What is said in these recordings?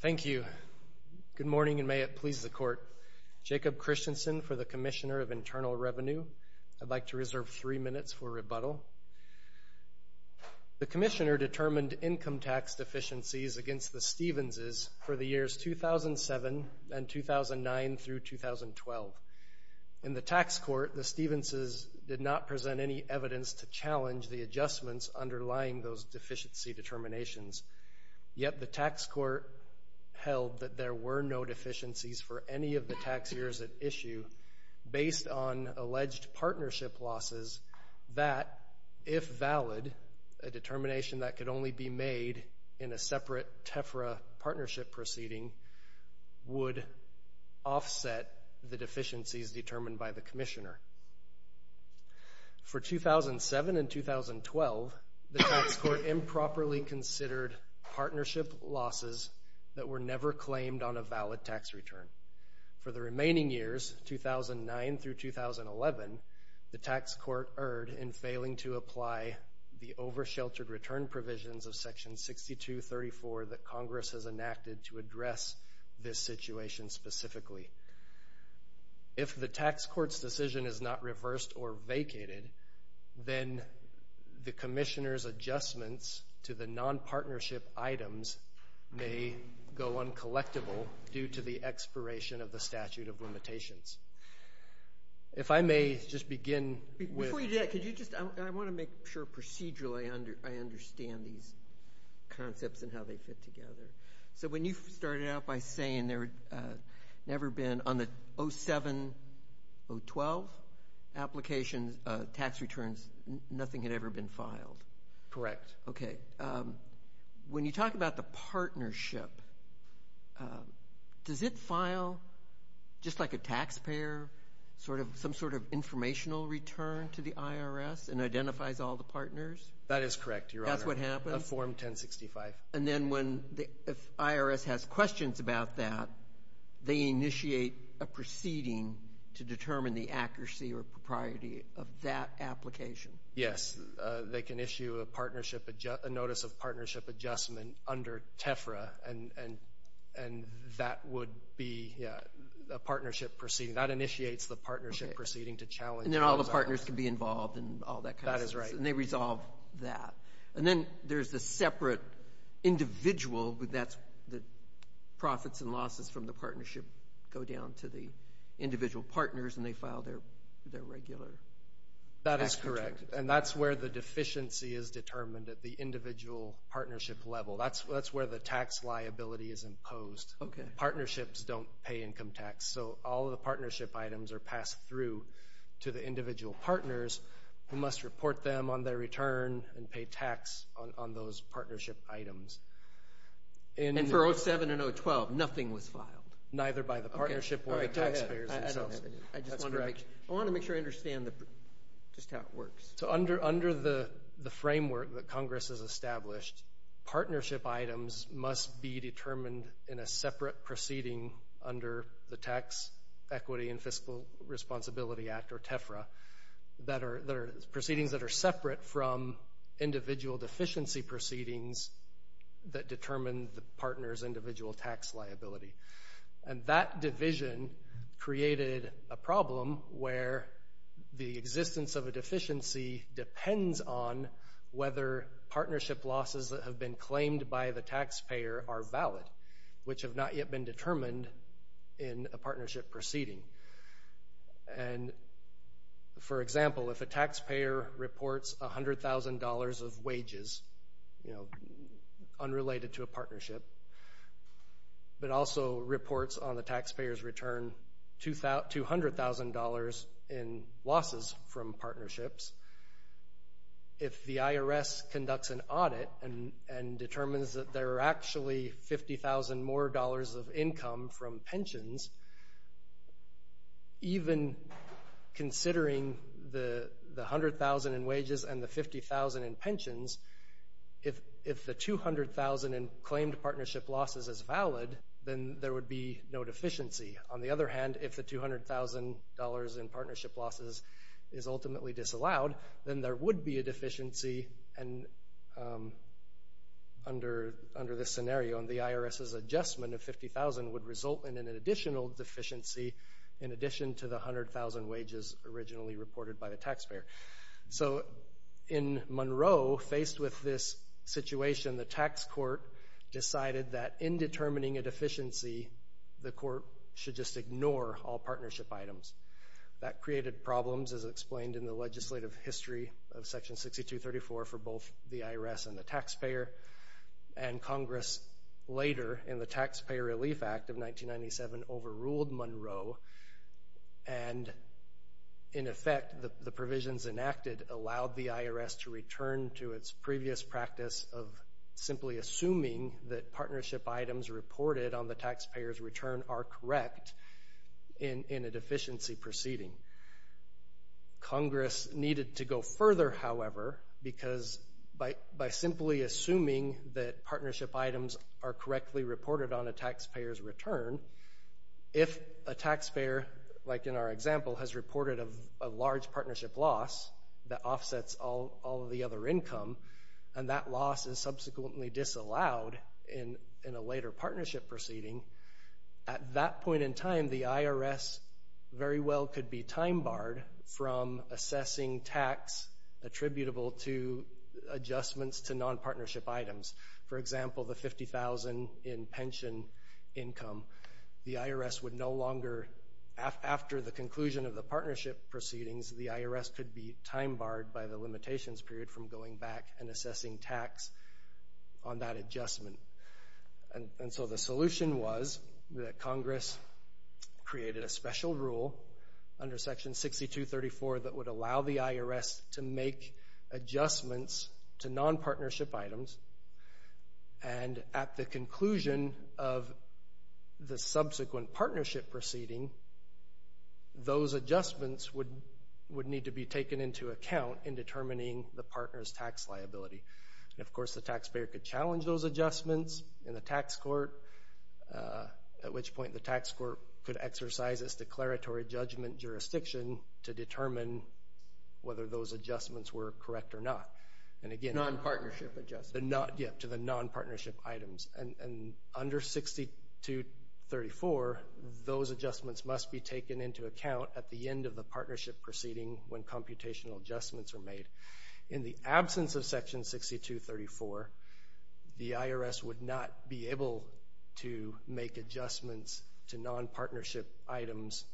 Thank you. Good morning and may it please the Court. Jacob Christensen for the Commissioner of Internal Revenue. I'd like to reserve three minutes for rebuttal. The Commissioner determined income tax deficiencies against the Stevens' for the years 2007 and 2009 through 2012. In the Tax Court, the Stevens' did not present any evidence to challenge the adjustments underlying those deficiency determinations, yet the Tax Court held that there were no deficiencies for any of the tax years at issue based on alleged partnership losses that, if valid, a determination that could only be made in a separate TEFRA partnership proceeding would offset the deficiencies determined by the Commissioner. For 2007 and 2012, the Tax Court improperly considered partnership losses that were never claimed on a valid tax return. For the remaining years, 2009 through 2011, the Tax Court erred in failing to apply the situation specifically. If the Tax Court's decision is not reversed or vacated, then the Commissioner's adjustments to the non-partnership items may go uncollectible due to the expiration of the statute of limitations. If I may just begin with... Before you do that, I want to make sure procedurally I understand these concepts and how they fit by saying there had never been, on the 2007-2012 application tax returns, nothing had ever been filed. Correct. When you talk about the partnership, does it file, just like a taxpayer, some sort of informational return to the IRS and identifies all the partners? That is correct, Your Honor. That's what happens? Of Form 1065. And then if the IRS has questions about that, they initiate a proceeding to determine the accuracy or propriety of that application? Yes. They can issue a Notice of Partnership Adjustment under TEFRA, and that would be a partnership proceeding. That initiates the partnership proceeding to challenge all the partners. And then all the partners can be involved in all that kind of stuff. That is right. And they resolve that. And then there's the separate individual, that's the profits and losses from the partnership go down to the individual partners, and they file their regular tax returns. That is correct. And that's where the deficiency is determined at the individual partnership level. That's where the tax liability is imposed. Partnerships don't pay income tax, so all of the partnership items are passed through to the individual partners who must report them on their return and pay tax on those partnership items. And for 07 and 012, nothing was filed? Neither by the partnership or the taxpayers themselves. I just want to make sure I understand just how it works. Under the framework that Congress has established, partnership items must be determined in a partnership proceeding under the Act or TEFRA that are proceedings that are separate from individual deficiency proceedings that determine the partner's individual tax liability. And that division created a problem where the existence of a deficiency depends on whether partnership losses that have been claimed by the taxpayer are valid, which have not yet been determined in a partnership proceeding. And for example, if a taxpayer reports $100,000 of wages, you know, unrelated to a partnership, but also reports on the taxpayer's return $200,000 in losses from partnerships, if the IRS conducts an audit and determines that there are actually $50,000 more of income from pensions, even considering the $100,000 in wages and the $50,000 in pensions, if the $200,000 in claimed partnership losses is valid, then there would be no deficiency. On the other hand, if the $200,000 in partnership losses is ultimately disallowed, then there would be a deficiency, and under the framework under this scenario, and the IRS's adjustment of $50,000 would result in an additional deficiency in addition to the $100,000 wages originally reported by the taxpayer. So in Monroe, faced with this situation, the tax court decided that in determining a deficiency, the court should just ignore all partnership items. That created problems, as explained in the Congress later in the Taxpayer Relief Act of 1997 overruled Monroe, and in effect, the provisions enacted allowed the IRS to return to its previous practice of simply assuming that partnership items reported on the taxpayer's return are correct in a deficiency proceeding. Congress needed to go further, however, because by simply assuming that partnership items are correctly reported on a taxpayer's return, if a taxpayer, like in our example, has reported a large partnership loss that offsets all of the other income, and that loss is subsequently disallowed in a later partnership proceeding, at that point in time, the IRS very well could be time-barred from assessing tax attributable to adjustments to non-partnership items. For example, the $50,000 in pension income, the IRS would no longer, after the conclusion of the partnership proceedings, the IRS could be time-barred by the limitations period from going back and assessing tax on that adjustment. And so the solution was that Congress created a special rule under Section 6234 that would allow the IRS to make adjustments to non-partnership items, and at the conclusion of the subsequent partnership proceeding, those adjustments would need to be taken into account in determining the partner's tax liability. And of course, the taxpayer could challenge those adjustments in the tax court, at which point the tax court could exercise its declaratory judgment jurisdiction to determine whether those adjustments were correct or not. And again, to the non-partnership items. And under 6234, those adjustments must be taken into account at the end of the partnership proceeding when computational adjustments are made. In the absence of Section 6234, the IRS would not be able to make adjustments to non-partnership items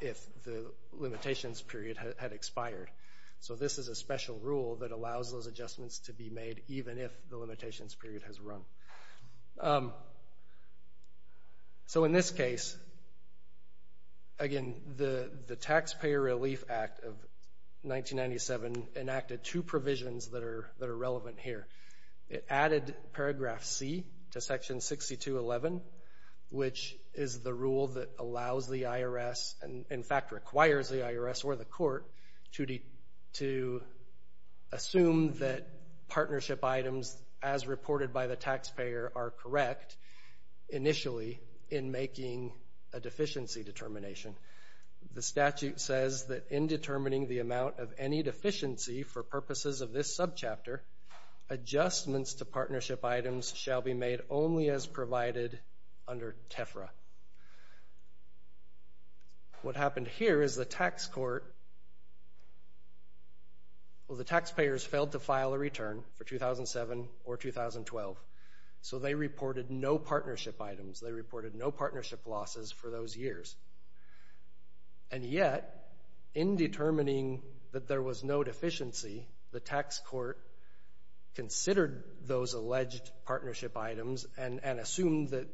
if the limitations period had expired. So this is a special rule that allows those adjustments to be made even if the limitations period has run. So in this case, again, the Taxpayer Relief Act of 1997 enacted two provisions that are which is the rule that allows the IRS, and in fact requires the IRS or the court, to assume that partnership items as reported by the taxpayer are correct initially in making a deficiency determination. The statute says that in determining the amount of any deficiency for purposes of this subchapter, adjustments to partnership items shall be made only as a tefra. What happened here is the tax court, well the taxpayers failed to file a return for 2007 or 2012, so they reported no partnership items. They reported no partnership losses for those years. And yet, in determining that there was no deficiency, the tax court considered those alleged partnership items and assumed that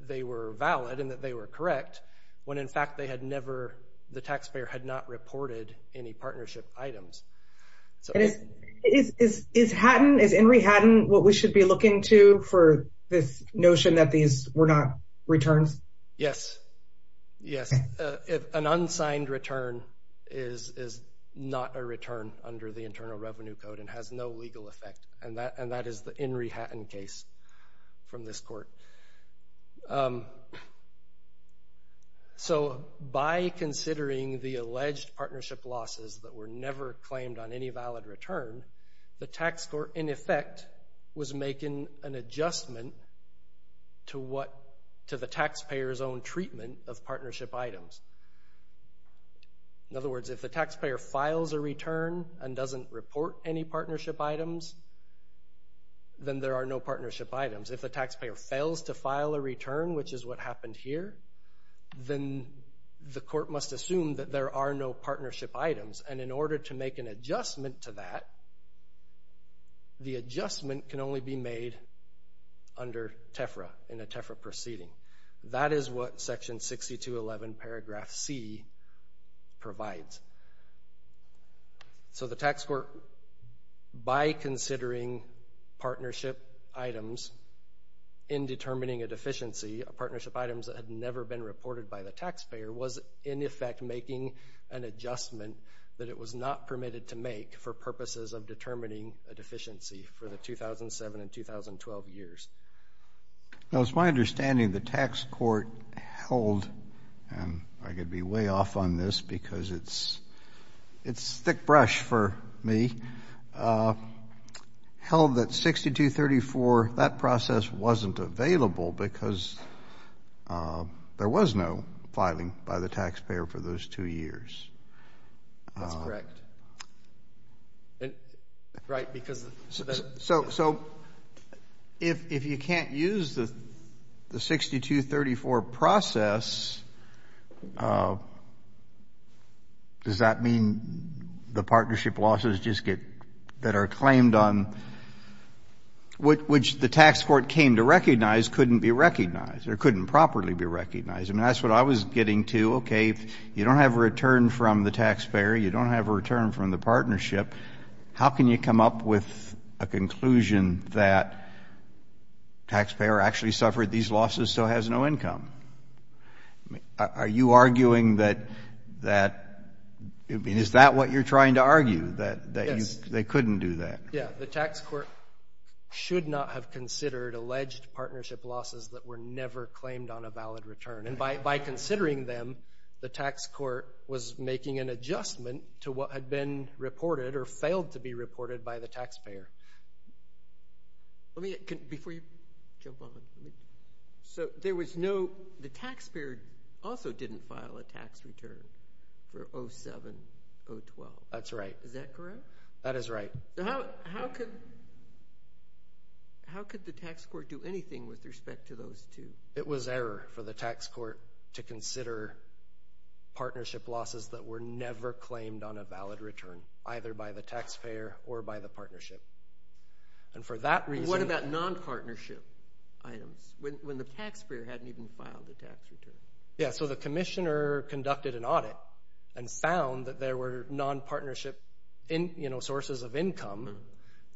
they were valid and that they were correct when in fact they had never, the taxpayer had not reported any partnership items. Is Henry Hatton what we should be looking to for this notion that these were not returns? Yes. An unsigned return is not a return under the Internal Revenue Code and has no legal effect, and that is the Henry Hatton case from this court. So by considering the alleged partnership losses that were never claimed on any valid return, the tax court in effect was making an adjustment to the taxpayer's own treatment of partnership items. In other words, if the taxpayer fails to file a return, which is what happened here, then the court must assume that there are no partnership items. And in order to make an adjustment to that, the adjustment can only be made under tefra, in a tefra proceeding. That is what section 6211 paragraph C provides. So the tax court, by considering the alleged partnership items, in determining a deficiency, a partnership item that had never been reported by the taxpayer, was in effect making an adjustment that it was not permitted to make for purposes of determining a deficiency for the 2007 and 2012 years. Now it's my understanding the tax court held, and I could be way off on this because it's thick brush for me, held that 6234, that process wasn't available because there was no filing by the taxpayer for those two years. That's correct. Right, because So, so if you can't use the 6234 process, does that mean that you can't make an adjustment to the partnership losses just get, that are claimed on, which the tax court came to recognize couldn't be recognized, or couldn't properly be recognized? I mean, that's what I was getting to. Okay, if you don't have a return from the taxpayer, you don't have a return from the partnership, how can you come up with a conclusion that taxpayer actually suffered these losses, so has no income? Are you arguing that, that, I mean, is that what you're trying to argue, that they couldn't do that? Yeah, the tax court should not have considered alleged partnership losses that were never claimed on a valid return, and by considering them, the tax court was making an adjustment to what had been reported, or failed to be reported by the taxpayer. Let me, before you jump on, so there was no, the taxpayer also didn't file a tax return for 07, 012. That's right. Is that correct? That is right. How, how could, how could the tax court do anything with respect to those two? It was error for the tax court to consider partnership losses that were never claimed on a valid return, either by the taxpayer or by the partnership, and for that reason. What about non-partnership items, when the taxpayer hadn't even filed a tax return? Yeah, so the commissioner conducted an audit and found that there were non-partnership in, you know, sources of income,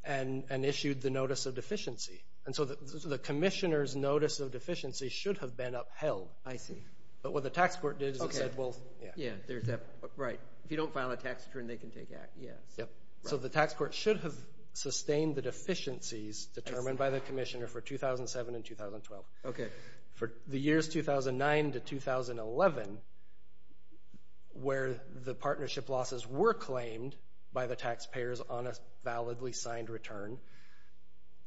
and, and issued the notice of deficiency, and so the commissioner's notice of deficiency should have been upheld. I see. But what the tax court did is it said, well, yeah. Yeah, there's that, right, if you don't file a tax return, they can take that, yeah. Yep. So the tax court should have sustained the deficiencies determined by the commissioner for 2007 and 2012. Okay. For the years 2009 to 2011, where the partnership losses were claimed by the taxpayers on a validly signed return,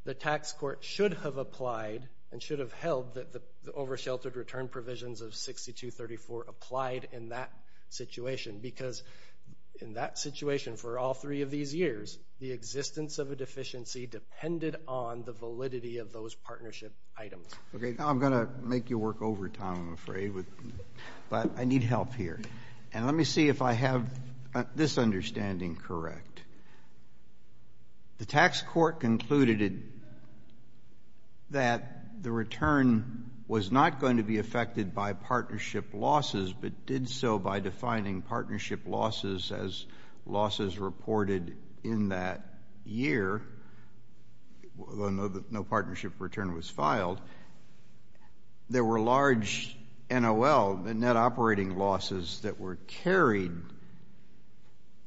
the tax court should have applied and should have held that the oversheltered return provisions of 6234 applied in that situation, because in that situation for all three of these years, the existence of a deficiency depended on the validity of those partnership items. Okay, now I'm going to make you work overtime, I'm afraid, but I need help here, and let me see if I have this understanding correct. The tax court concluded that the return was not going to be affected by partnership losses, but did so by defining partnership losses as losses reported in that year, although no partnership return was filed. There were large NOL, the net operating losses, that were carried,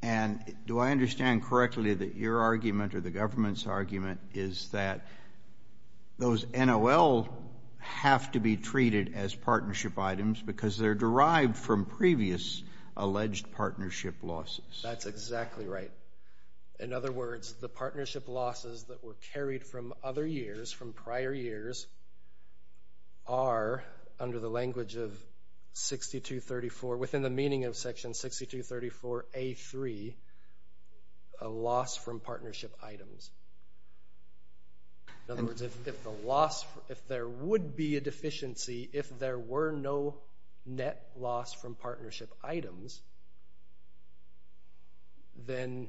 and do I understand correctly that your argument or the government's argument is that those NOL have to be treated as partnership items because they're derived from previous alleged partnership losses? That's exactly right. In other words, the partnership losses that were carried from other years, from prior years, are, under the language of 6234, within the meaning of section 6234A3, a loss from partnership items. In other words, if there would be a deficiency, if there were no net loss from partnership items, then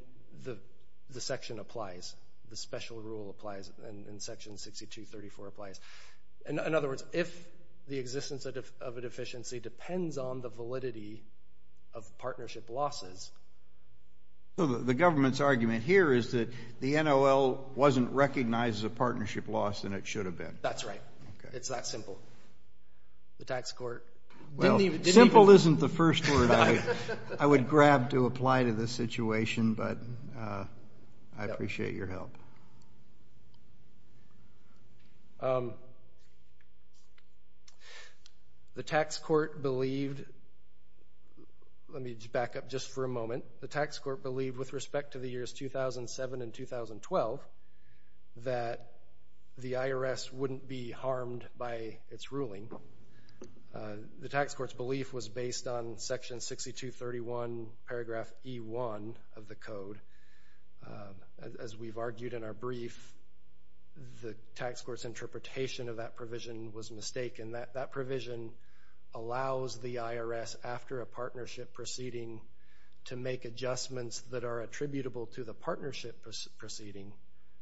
the section applies, the special rule applies, and section 6234 applies. In other words, if the existence of a deficiency depends on the validity of partnership losses... So the government's argument here is that the NOL wasn't recognized as a partnership loss, and it should have been. That's right. It's that simple. The tax court... Well, simple isn't the first word I would grab to apply to this situation, but I appreciate your help. The tax court believed... Let me back up just for a moment. The tax court believed, with respect to the years 2007 and 2012, that the IRS wouldn't be harmed by its ruling. The tax court's belief was based on section 6231, paragraph E1 of the code. As we've argued in our brief, the tax court's interpretation of that provision was mistaken. That provision allows the IRS, after a partnership proceeding, to make adjustments that are attributable to the partnership proceeding,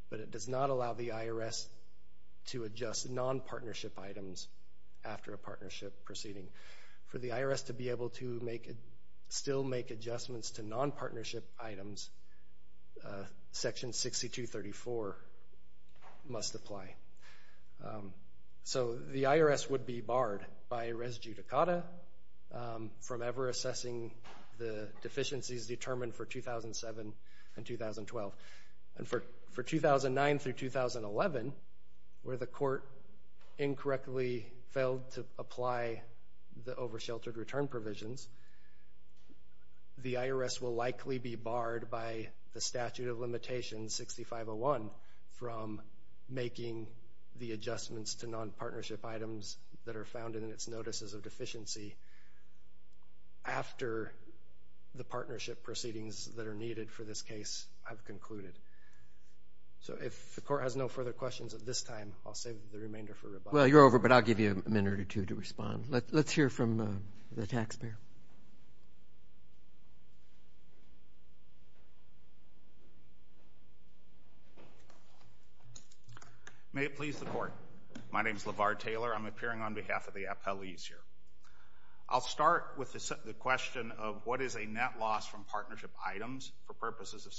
but it does not allow the IRS to adjust non-partnership items after a partnership proceeding. For the IRS to be able to still make adjustments to non-partnership items, section 6234 must apply. So, the IRS would be barred by res judicata from ever assessing the deficiencies determined for 2007 and 2012. And for 2009 through 2011, where the court incorrectly failed to apply the over-sheltered return provisions, the IRS will likely be barred by the statute of the adjustments to non-partnership items that are found in its notices of deficiency after the partnership proceedings that are needed for this case have concluded. So, if the court has no further questions at this time, I'll save the remainder for rebuttal. Well, you're over, but I'll give you a minute or two to respond. Let's hear from the taxpayer. May it please the court. My name is LeVar Taylor. I'm appearing on behalf of the appellees here. I'll start with the question of what is a net loss from partnership items for purposes of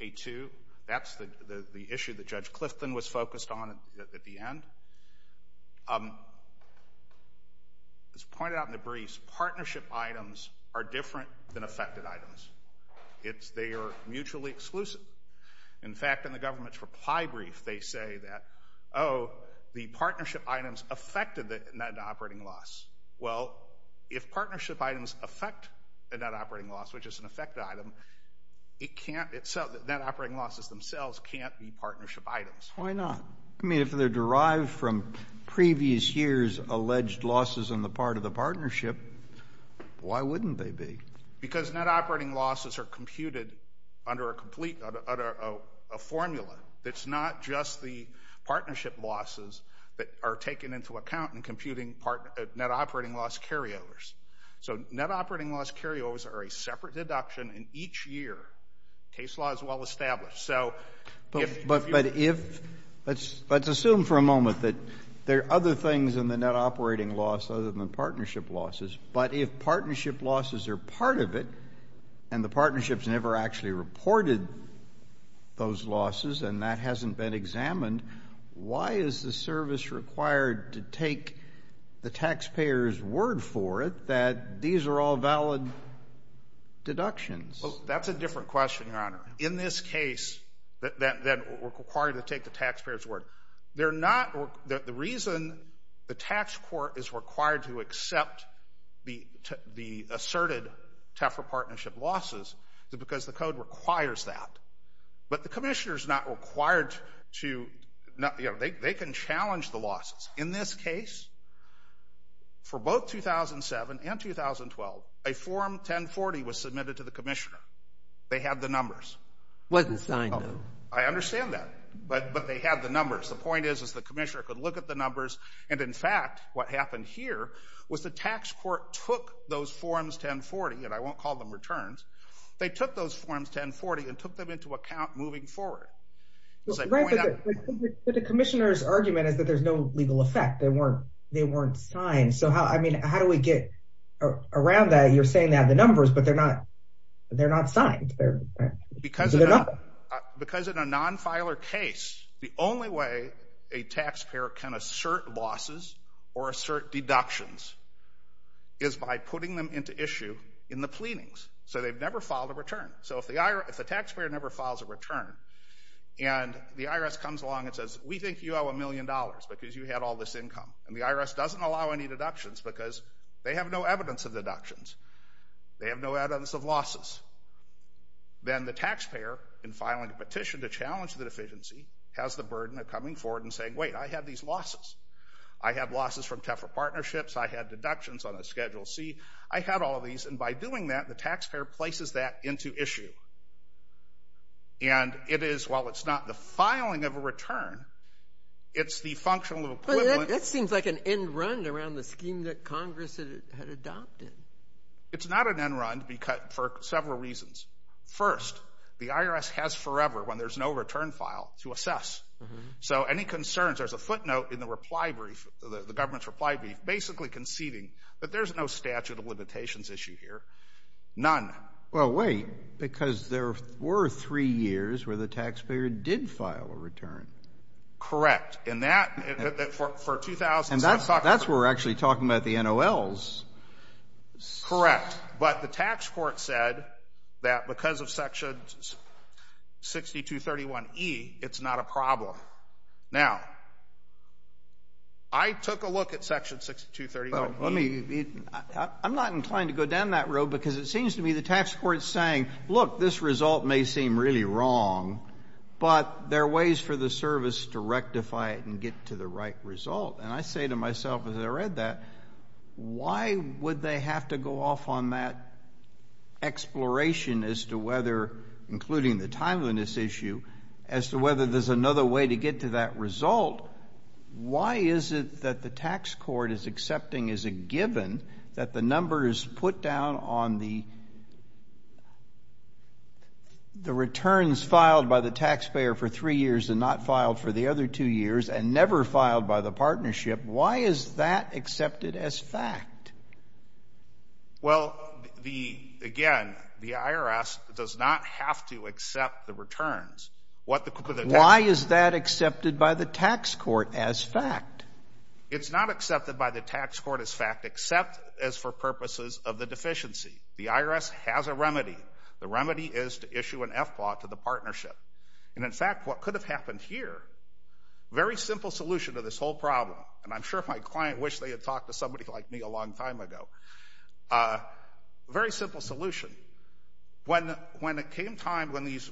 6234A2. That's the issue that Judge Clifton was focused on at the end. As pointed out in the briefs, partnership items are different than affected items. They are mutually exclusive. In fact, in the government's reply brief, they say that, oh, the partnership items affected the net operating loss. Well, if partnership items affect the net operating loss, which is an affected item, net operating losses themselves can't be partnership items. Why not? I mean, if they're derived from previous years' alleged losses on the part of the partnership, why wouldn't they be? Because net operating losses are computed under a formula that's not just the partnership losses that are taken into account in computing net operating loss carryovers. So, net operating loss carryovers are a separate deduction, and each year, case law is well established. But if, let's assume for a moment that there are other things in the net operating loss other than partnership losses, but if partnership losses are part of it, and the partnerships never actually reported those losses, and that hasn't been examined, why is the service required to take the taxpayer's word for it that these are all valid deductions? Well, that's a different question, Your Honor. In this case, that we're required to take the taxpayer's word, they're not, the reason the tax court is required to accept the asserted TEFRA partnership losses is because the code requires that. But the commissioner is not required to, you know, they can challenge the losses. In this case, for both 2007 and 2012, a form 1040 was submitted to the commissioner. They had the numbers. It wasn't signed, though. I understand that, but they had the numbers. The point is, is the commissioner could look at the numbers, and in fact, what happened here was the tax court took those forms 1040, and I won't call them returns, they took those forms 1040 and took them into account moving forward. Right, but the commissioner's argument is that there's no legal effect. They weren't signed. So how do we get around that? You're saying they have the numbers, but they're not signed. Because in a non-filer case, the only way a taxpayer can assert losses or assert deductions is by putting them into issue in the pleadings. So they've never filed a return. So if the taxpayer never files a return, and the IRS comes along and says, we think you owe a million dollars because you had all this income, and the IRS doesn't allow any deductions because they have no evidence of deductions, they have no evidence of losses, then the taxpayer, in filing a petition to challenge the deficiency, has the burden of coming forward and saying, wait, I had these losses. I had losses from Tefra Partnerships, I had deductions on a Schedule C, I had all of these, and by doing that, the taxpayer places that into issue. And it is, while it's not the filing of a return, it's the functional equivalent. But that seems like an end-run around the scheme that Congress had adopted. It's not an end-run for several reasons. First, the IRS has forever, when there's no return file, to assess. So any concerns, there's a footnote in the government's reply brief basically conceding that there's no statute of limitations issue here. None. Well, wait, because there were three years where the taxpayer did file a return. Correct. And that, for 2007, And that's where we're actually talking about the NOLs. Correct. But the tax court said that because of Section 6231E, it's not a problem. Now, I took a look at Section 6231E I'm not inclined to go down that road because it seems to me the tax court's saying, look, this result may seem really wrong, but there are ways for the service to rectify it and get to the right result. And I say to myself as I read that, why would they have to go off on that exploration as to whether, including the timeliness issue, as to whether there's another way to get to that result? Why is it that the tax court is accepting as a given that the number is put down on the returns filed by the taxpayer for three years and not filed for the other two years and never filed by the partnership? Why is that accepted as fact? Well, again, the IRS does not have to accept the returns. Why is that accepted by the tax court as fact? It's not accepted by the tax court as fact except as for purposes of the deficiency. The IRS has a remedy. The remedy is to issue an FPAW to the partnership. And in fact, what could have happened here, very simple solution to this whole problem, and I'm sure if my client wished they had talked to somebody like me a long time ago, very simple solution. When it came time when these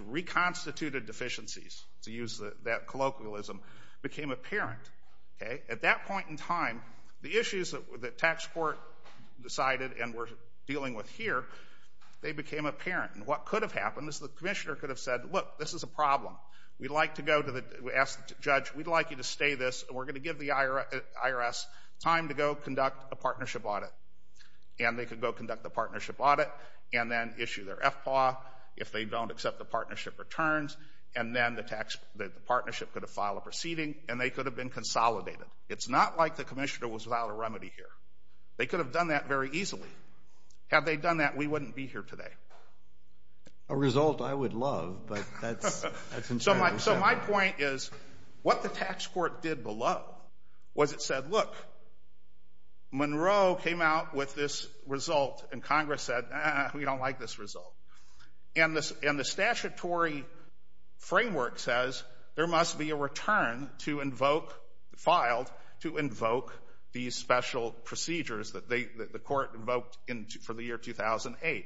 reconstituted deficiencies, to use that colloquialism, became apparent, at that point in time the issues that the tax court decided and were dealing with here, they became apparent. And what could have happened is the commissioner could have said, look, this is a problem. We'd like to go to the, ask the judge, we'd like you to stay this, and we're going to give the IRS time to go conduct a partnership audit. And they could go conduct the partnership audit and then issue their FPAW if they don't accept the partnership returns, and then the partnership could have filed a proceeding, and they could have been consolidated. It's not like the commissioner was without a remedy here. They could have done that very easily. Had they done that, we wouldn't be here today. A result I would love, but that's insanity. So my point is what the tax court did below was it said, look, Monroe came out with this result, and Congress said, we don't like this result. And the statutory framework says there must be a return to invoke, filed, to invoke these special procedures that the court invoked for the year 2008.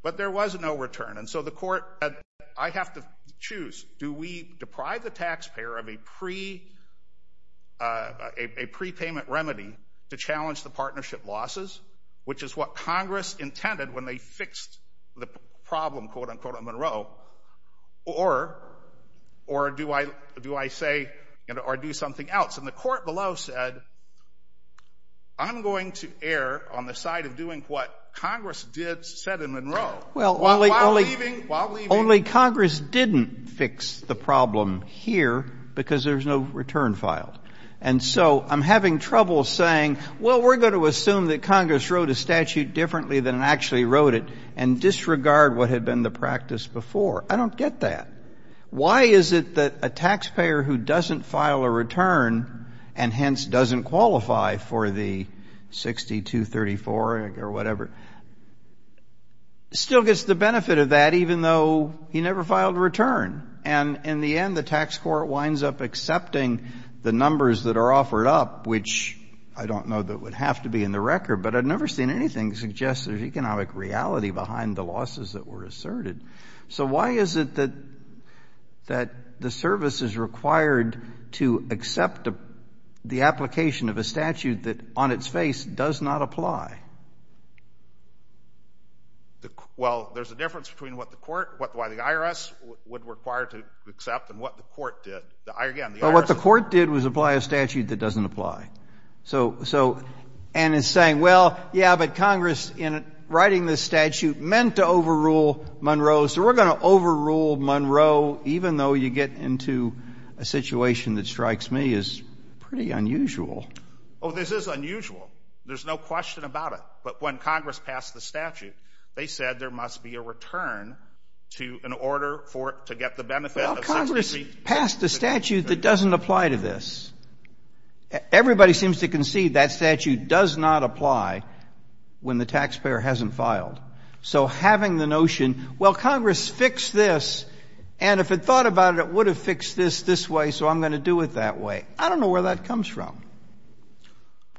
But there was no return. And so the court said, I have to choose. Do we deprive the taxpayer of a prepayment remedy to challenge the partnership losses, which is what Congress intended when they fixed the problem, quote, unquote, on Monroe, or do I say or do something else? And the court below said, I'm going to err on the side of doing what Congress did, said in Monroe. Well, only Congress didn't fix the problem here because there's no return filed. And so I'm having trouble saying, well, we're going to assume that Congress wrote a statute differently than it actually wrote it and disregard what had been the practice before. I don't get that. Why is it that a taxpayer who doesn't file a return and, hence, doesn't qualify for the 60-234 or whatever, still gets the benefit of that even though he never filed a return? And in the end, the tax court winds up accepting the numbers that are offered up, which I don't know that would have to be in the record, but I've never seen anything suggest there's economic reality behind the losses that were asserted. So why is it that the service is required to accept the application of a statute that, on its face, does not apply? Well, there's a difference between what the court, why the IRS would require to accept and what the court did. Again, the IRS. Well, what the court did was apply a statute that doesn't apply. And in saying, well, yeah, but Congress, in writing this statute, meant to overrule Monroe, so we're going to overrule Monroe even though you get into a situation that strikes me as pretty unusual. Oh, this is unusual. There's no question about it. But when Congress passed the statute, they said there must be a return to an order to get the benefit of 60-234. Well, Congress passed a statute that doesn't apply to this. Everybody seems to concede that statute does not apply when the taxpayer hasn't filed. So having the notion, well, Congress fixed this, and if it thought about it, it would have fixed this this way, so I'm going to do it that way. I don't know where that comes from.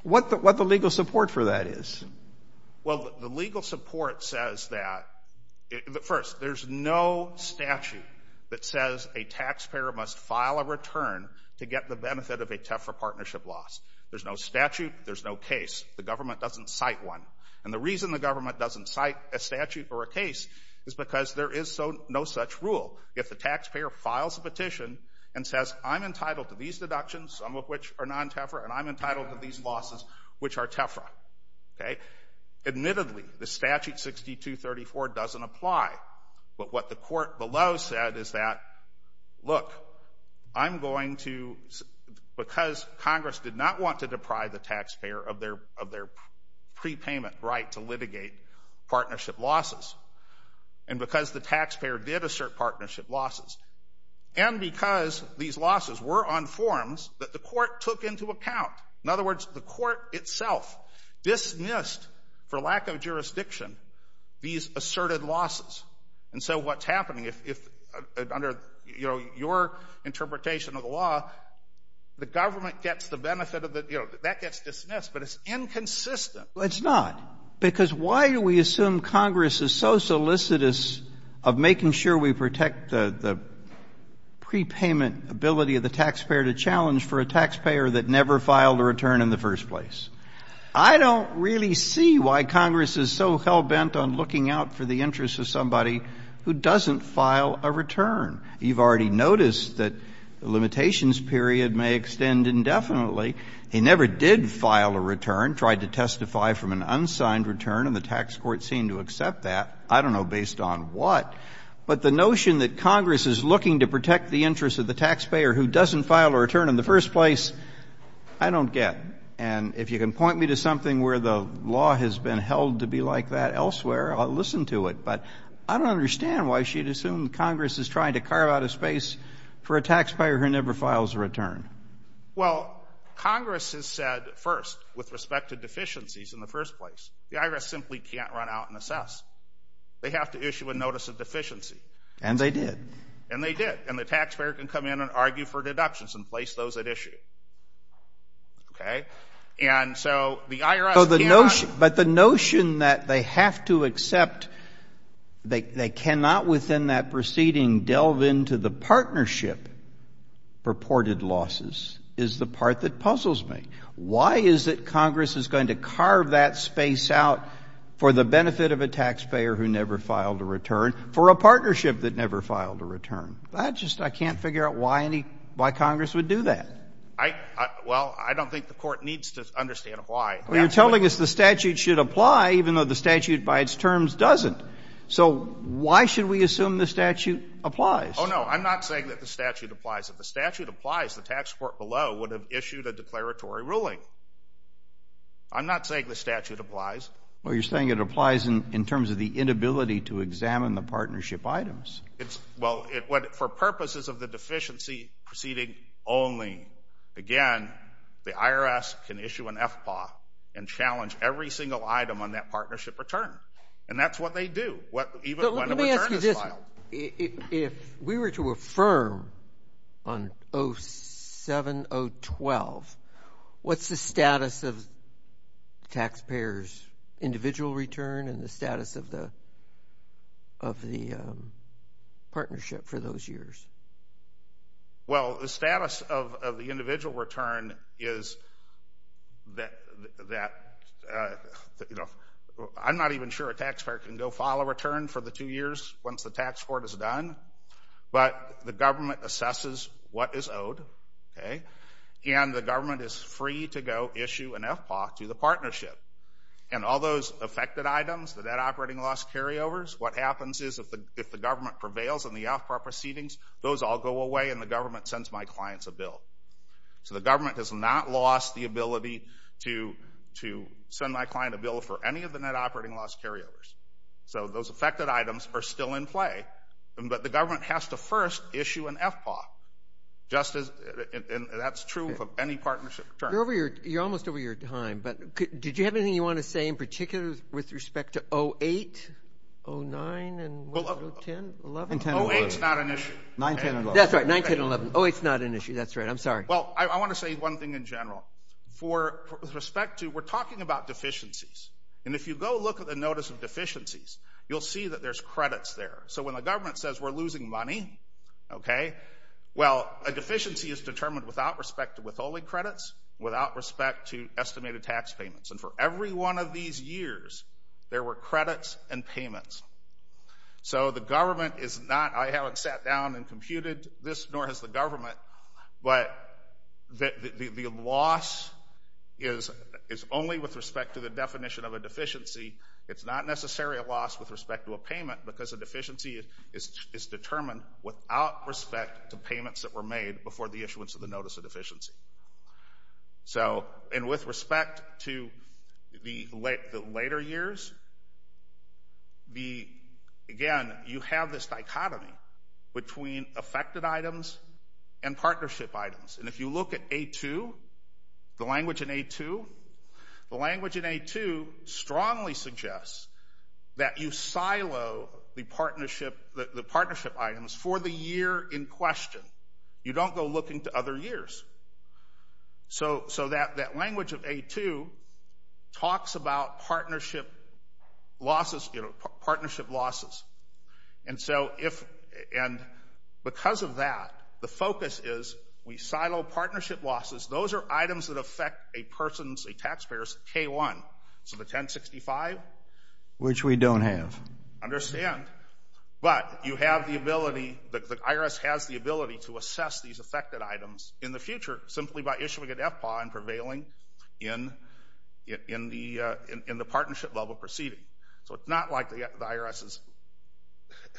What the legal support for that is. Well, the legal support says that, first, there's no statute that says a taxpayer must file a return to get the benefit of a TEFRA partnership loss. There's no statute. There's no case. The government doesn't cite one. And the reason the government doesn't cite a statute or a case is because there is no such rule. If the taxpayer files a petition and says, I'm entitled to these deductions, some of which are non-TEFRA, and I'm entitled to these losses, which are TEFRA, okay, admittedly, the statute 6234 doesn't apply. But what the court below said is that, look, I'm going to, because Congress did not want to deprive the taxpayer of their prepayment right to litigate partnership losses, and because the taxpayer did assert partnership losses, and because these losses were on forms that the court took into account. In other words, the court itself dismissed, for lack of jurisdiction, these asserted losses. And so what's happening, if under, you know, your interpretation of the law, the government gets the benefit of the, you know, that gets dismissed, but it's inconsistent. Well, it's not, because why do we assume Congress is so solicitous of making sure we protect the prepayment ability of the taxpayer to challenge for a taxpayer that never filed a return in the first place? I don't really see why Congress is so hell-bent on looking out for the interests of somebody who doesn't file a return. You've already noticed that the limitations period may extend indefinitely. He never did file a return, tried to testify from an unsigned return, and the tax court seemed to accept that. I don't know based on what. But the notion that Congress is looking to protect the interests of the taxpayer who doesn't file a return in the first place, I don't get. And if you can point me to something where the law has been held to be like that elsewhere, I'll listen to it. But I don't understand why she'd assume Congress is trying to carve out a space for a taxpayer who never files a return. Well, Congress has said first, with respect to deficiencies in the first place, the IRS simply can't run out and assess. They have to issue a notice of deficiency. And they did. And they did. And the taxpayer can come in and argue for deductions and place those at issue. Okay? And so the IRS cannot. But the notion that they have to accept, they cannot within that proceeding delve into the partnership purported losses is the part that puzzles me. Why is it Congress is going to carve that space out for the benefit of a taxpayer who never filed a return, for a partnership that never filed a return? I just can't figure out why Congress would do that. Well, I don't think the Court needs to understand why. Well, you're telling us the statute should apply even though the statute by its terms doesn't. So why should we assume the statute applies? Oh, no. I'm not saying that the statute applies. If the statute applies, the tax court below would have issued a declaratory ruling. I'm not saying the statute applies. Well, you're saying it applies in terms of the inability to examine the partnership items. Well, for purposes of the deficiency proceeding only, again, the IRS can issue an FPAW and challenge every single item on that partnership return. And that's what they do, even when a return is filed. If we were to affirm on 07-012, what's the status of taxpayers' individual return and the status of the partnership for those years? Well, the status of the individual return is that, you know, I'm not even sure a taxpayer can go file a return for the two years once the tax court is done, but the government assesses what is owed, okay, and the government is free to go issue an FPAW to the partnership. And all those affected items, the debt operating loss carryovers, what happens is if the government prevails on the FPAW proceedings, those all go away and the government sends my clients a bill. So the government has not lost the ability to send my client a bill for any of the net operating loss carryovers. So those affected items are still in play, but the government has to first issue an FPAW. And that's true of any partnership return. You're almost over your time, but did you have anything you want to say in particular with respect to 08, 09, and 10, 11? 08 is not an issue. 9, 10, and 11. That's right, 9, 10, and 11. Oh, it's not an issue. That's right. I'm sorry. Well, I want to say one thing in general. With respect to, we're talking about deficiencies, and if you go look at the notice of deficiencies, you'll see that there's credits there. So when the government says we're losing money, okay, well, a deficiency is determined without respect to withholding credits, without respect to estimated tax payments. And for every one of these years, there were credits and payments. So the government is not, I haven't sat down and computed this, nor has the government, but the loss is only with respect to the definition of a deficiency. It's not necessarily a loss with respect to a payment, because a deficiency is determined without respect to payments that were made before the issuance of the notice of deficiency. So, and with respect to the later years, again, you have this dichotomy between affected items and partnership items. And if you look at A2, the language in A2, the language in A2 strongly suggests that you silo the partnership items for the year in question. You don't go looking to other years. So that language of A2 talks about partnership losses, you know, partnership losses. And so if, and because of that, the focus is we silo partnership losses. Those are items that affect a person's, a taxpayer's K1, so the 1065. Which we don't have. Understand. But you have the ability, the IRS has the ability to assess these affected items in the future simply by issuing an FPAW and prevailing in the partnership level proceeding. So it's not like the IRS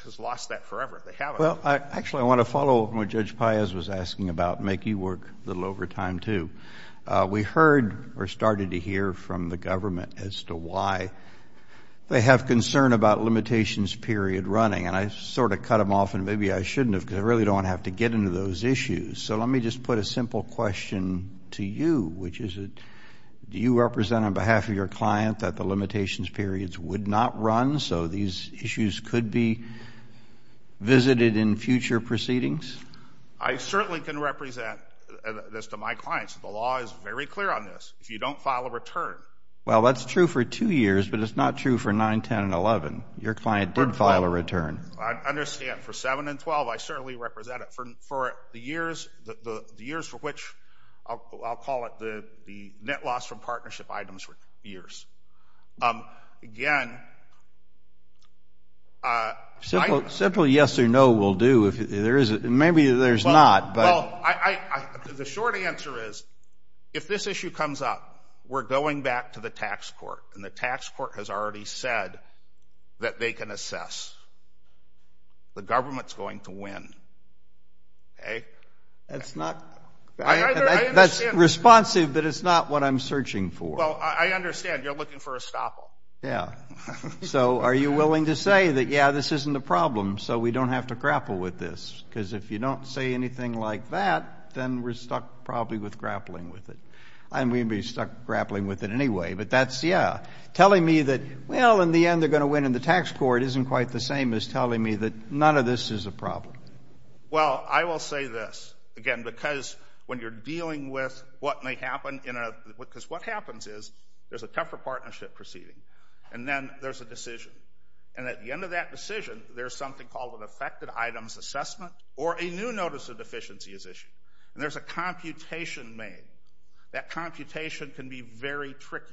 has lost that forever. They haven't. Well, actually, I want to follow up on what Judge Paez was asking about, make you work a little over time, too. We heard or started to hear from the government as to why they have concern about limitations period running. And I sort of cut them off, and maybe I shouldn't have, because I really don't want to have to get into those issues. So let me just put a simple question to you, which is, do you represent on behalf of your client that the limitations periods would not run so these issues could be visited in future proceedings? I certainly can represent this to my clients. The law is very clear on this. If you don't file a return. Well, that's true for two years, but it's not true for 9, 10, and 11. Your client did file a return. I understand. For 7 and 12, I certainly represent it. For the years for which, I'll call it the net loss from partnership items for years. Again, I. Simple yes or no will do. Maybe there's not, but. Well, the short answer is, if this issue comes up, we're going back to the tax court, and the tax court has already said that they can assess. The government's going to win. Okay? That's not. I understand. That's responsive, but it's not what I'm searching for. Well, I understand. You're looking for a stopper. Yeah. So, are you willing to say that, yeah, this isn't a problem, so we don't have to grapple with this? Because if you don't say anything like that, then we're stuck probably with grappling with it. I mean, we'd be stuck grappling with it anyway, but that's, yeah. Telling me that, well, in the end, they're going to win in the tax court isn't quite the same as telling me that none of this is a problem. Well, I will say this. Again, because when you're dealing with what may happen in a. Because what happens is, there's a tougher partnership proceeding. And then there's a decision. And at the end of that decision, there's something called an affected items assessment or a new notice of deficiency is issued. And there's a computation made. That computation can be very tricky.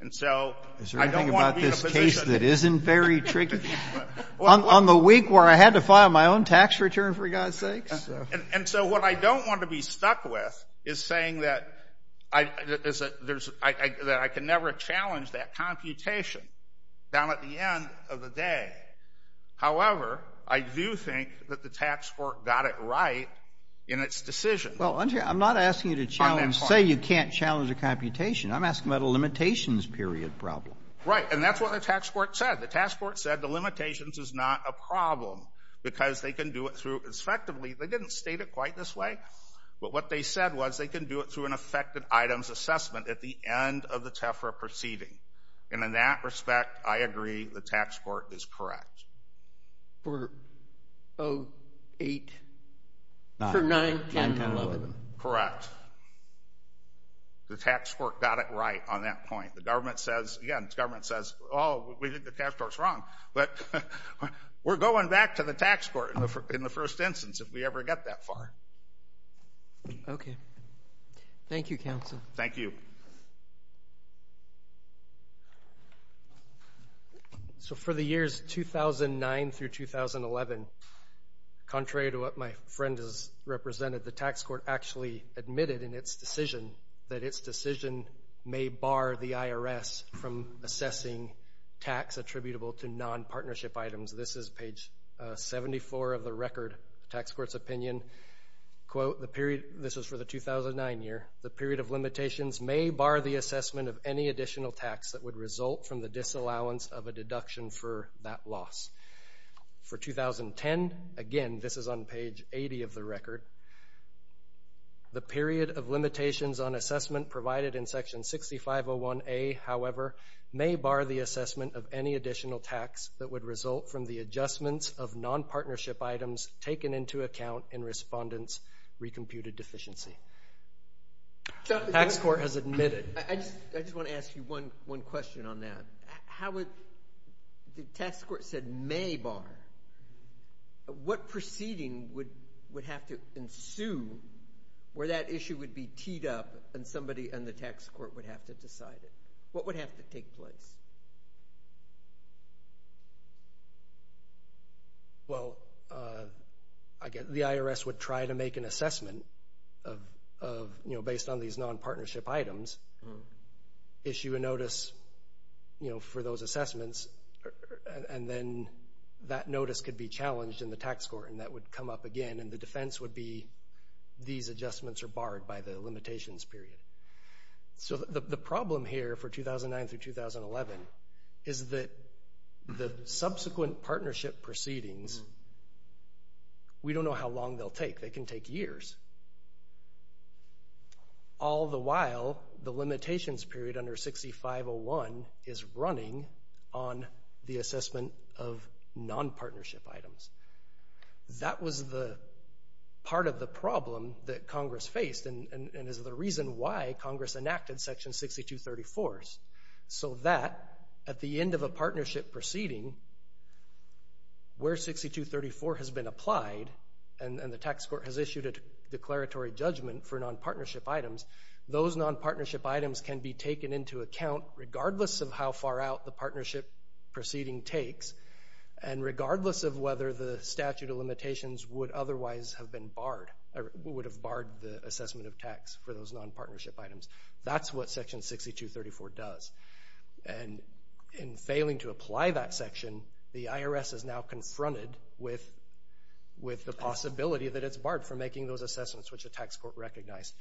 And so I don't want to be in a position. Is there anything about this case that isn't very tricky? On the week where I had to file my own tax return, for God's sakes? And so what I don't want to be stuck with is saying that I can never challenge that computation down at the end of the day. However, I do think that the tax court got it right in its decision. Well, I'm not asking you to say you can't challenge a computation. I'm asking about a limitations period problem. Right. And that's what the tax court said. The tax court said the limitations is not a problem. Because they can do it through, effectively, they didn't state it quite this way. But what they said was they can do it through an affected items assessment at the end of the TEFRA proceeding. And in that respect, I agree the tax court is correct. For 08, for 9, 10, 11. Correct. The tax court got it right on that point. The government says, again, the government says, oh, we think the tax court is wrong. But we're going back to the tax court in the first instance if we ever get that far. Okay. Thank you, counsel. Thank you. So for the years 2009 through 2011, contrary to what my friend has represented, the tax court actually admitted in its decision that its decision may bar the IRS from assessing tax attributable to non-partnership items. This is page 74 of the record. Tax court's opinion, quote, this was for the 2009 year, the period of limitations may bar the assessment of any additional tax that would result from the disallowance of a deduction for that loss. For 2010, again, this is on page 80 of the record, the period of limitations on assessment provided in section 6501A, however, may bar the assessment of any additional tax that would result from the adjustments of non-partnership items taken into account in respondents' recomputed deficiency. Tax court has admitted. I just want to ask you one question on that. The tax court said may bar. What proceeding would have to ensue where that issue would be teed up and somebody in the tax court would have to decide it? What would have to take place? Well, I guess the IRS would try to make an assessment based on these non-partnership items, issue a notice, you know, for those assessments, and then that notice could be challenged in the tax court and that would come up again, and the defense would be these adjustments are barred by the limitations period. So the problem here for 2009 through 2011 is that the subsequent partnership proceedings, we don't know how long they'll take. They can take years. All the while, the limitations period under 6501 is running on the assessment of non-partnership items. That was the part of the problem that Congress faced and is the reason why Congress enacted Section 6234s so that at the end of a partnership proceeding, where 6234 has been applied and the tax court has issued a declaratory judgment for non-partnership items, those non-partnership items can be taken into account regardless of how far out the partnership proceeding takes and regardless of whether the statute of limitations would otherwise have been barred or would have barred the assessment of tax for those non-partnership items. That's what Section 6234 does. And in failing to apply that section, the IRS is now confronted with the possibility that it's barred from making those assessments which the tax court recognized.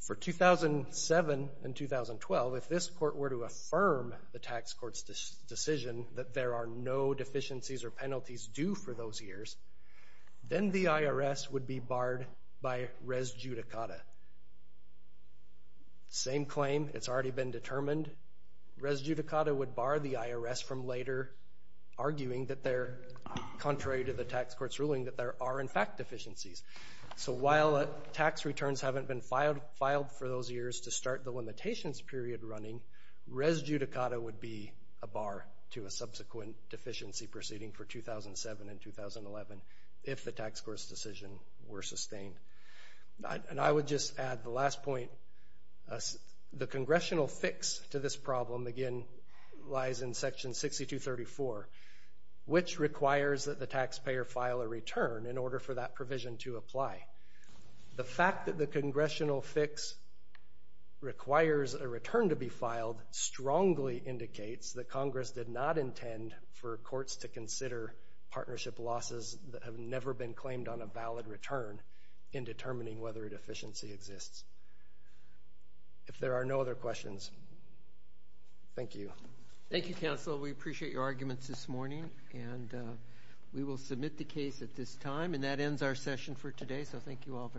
For 2007 and 2012, if this court were to affirm the tax court's decision that there are no deficiencies or penalties due for those years, then the IRS would be barred by res judicata. Same claim. It's already been determined. Res judicata would bar the IRS from later arguing that they're contrary to the tax court's ruling that there are, in fact, deficiencies. So while tax returns haven't been filed for those years to start the limitations period running, res judicata would be a bar to a subsequent deficiency proceeding for 2007 and 2011 if the tax court's decision were sustained. And I would just add the last point. The congressional fix to this problem, again, lies in Section 6234, which requires that the taxpayer file a return in order for that provision to apply. The fact that the congressional fix requires a return to be filed strongly indicates that Congress did not intend for courts to consider partnership losses that have never been claimed on a valid return in determining whether a deficiency exists. If there are no other questions, thank you. Thank you, counsel. We appreciate your arguments this morning. And we will submit the case at this time. And that ends our session for today, so thank you all very much.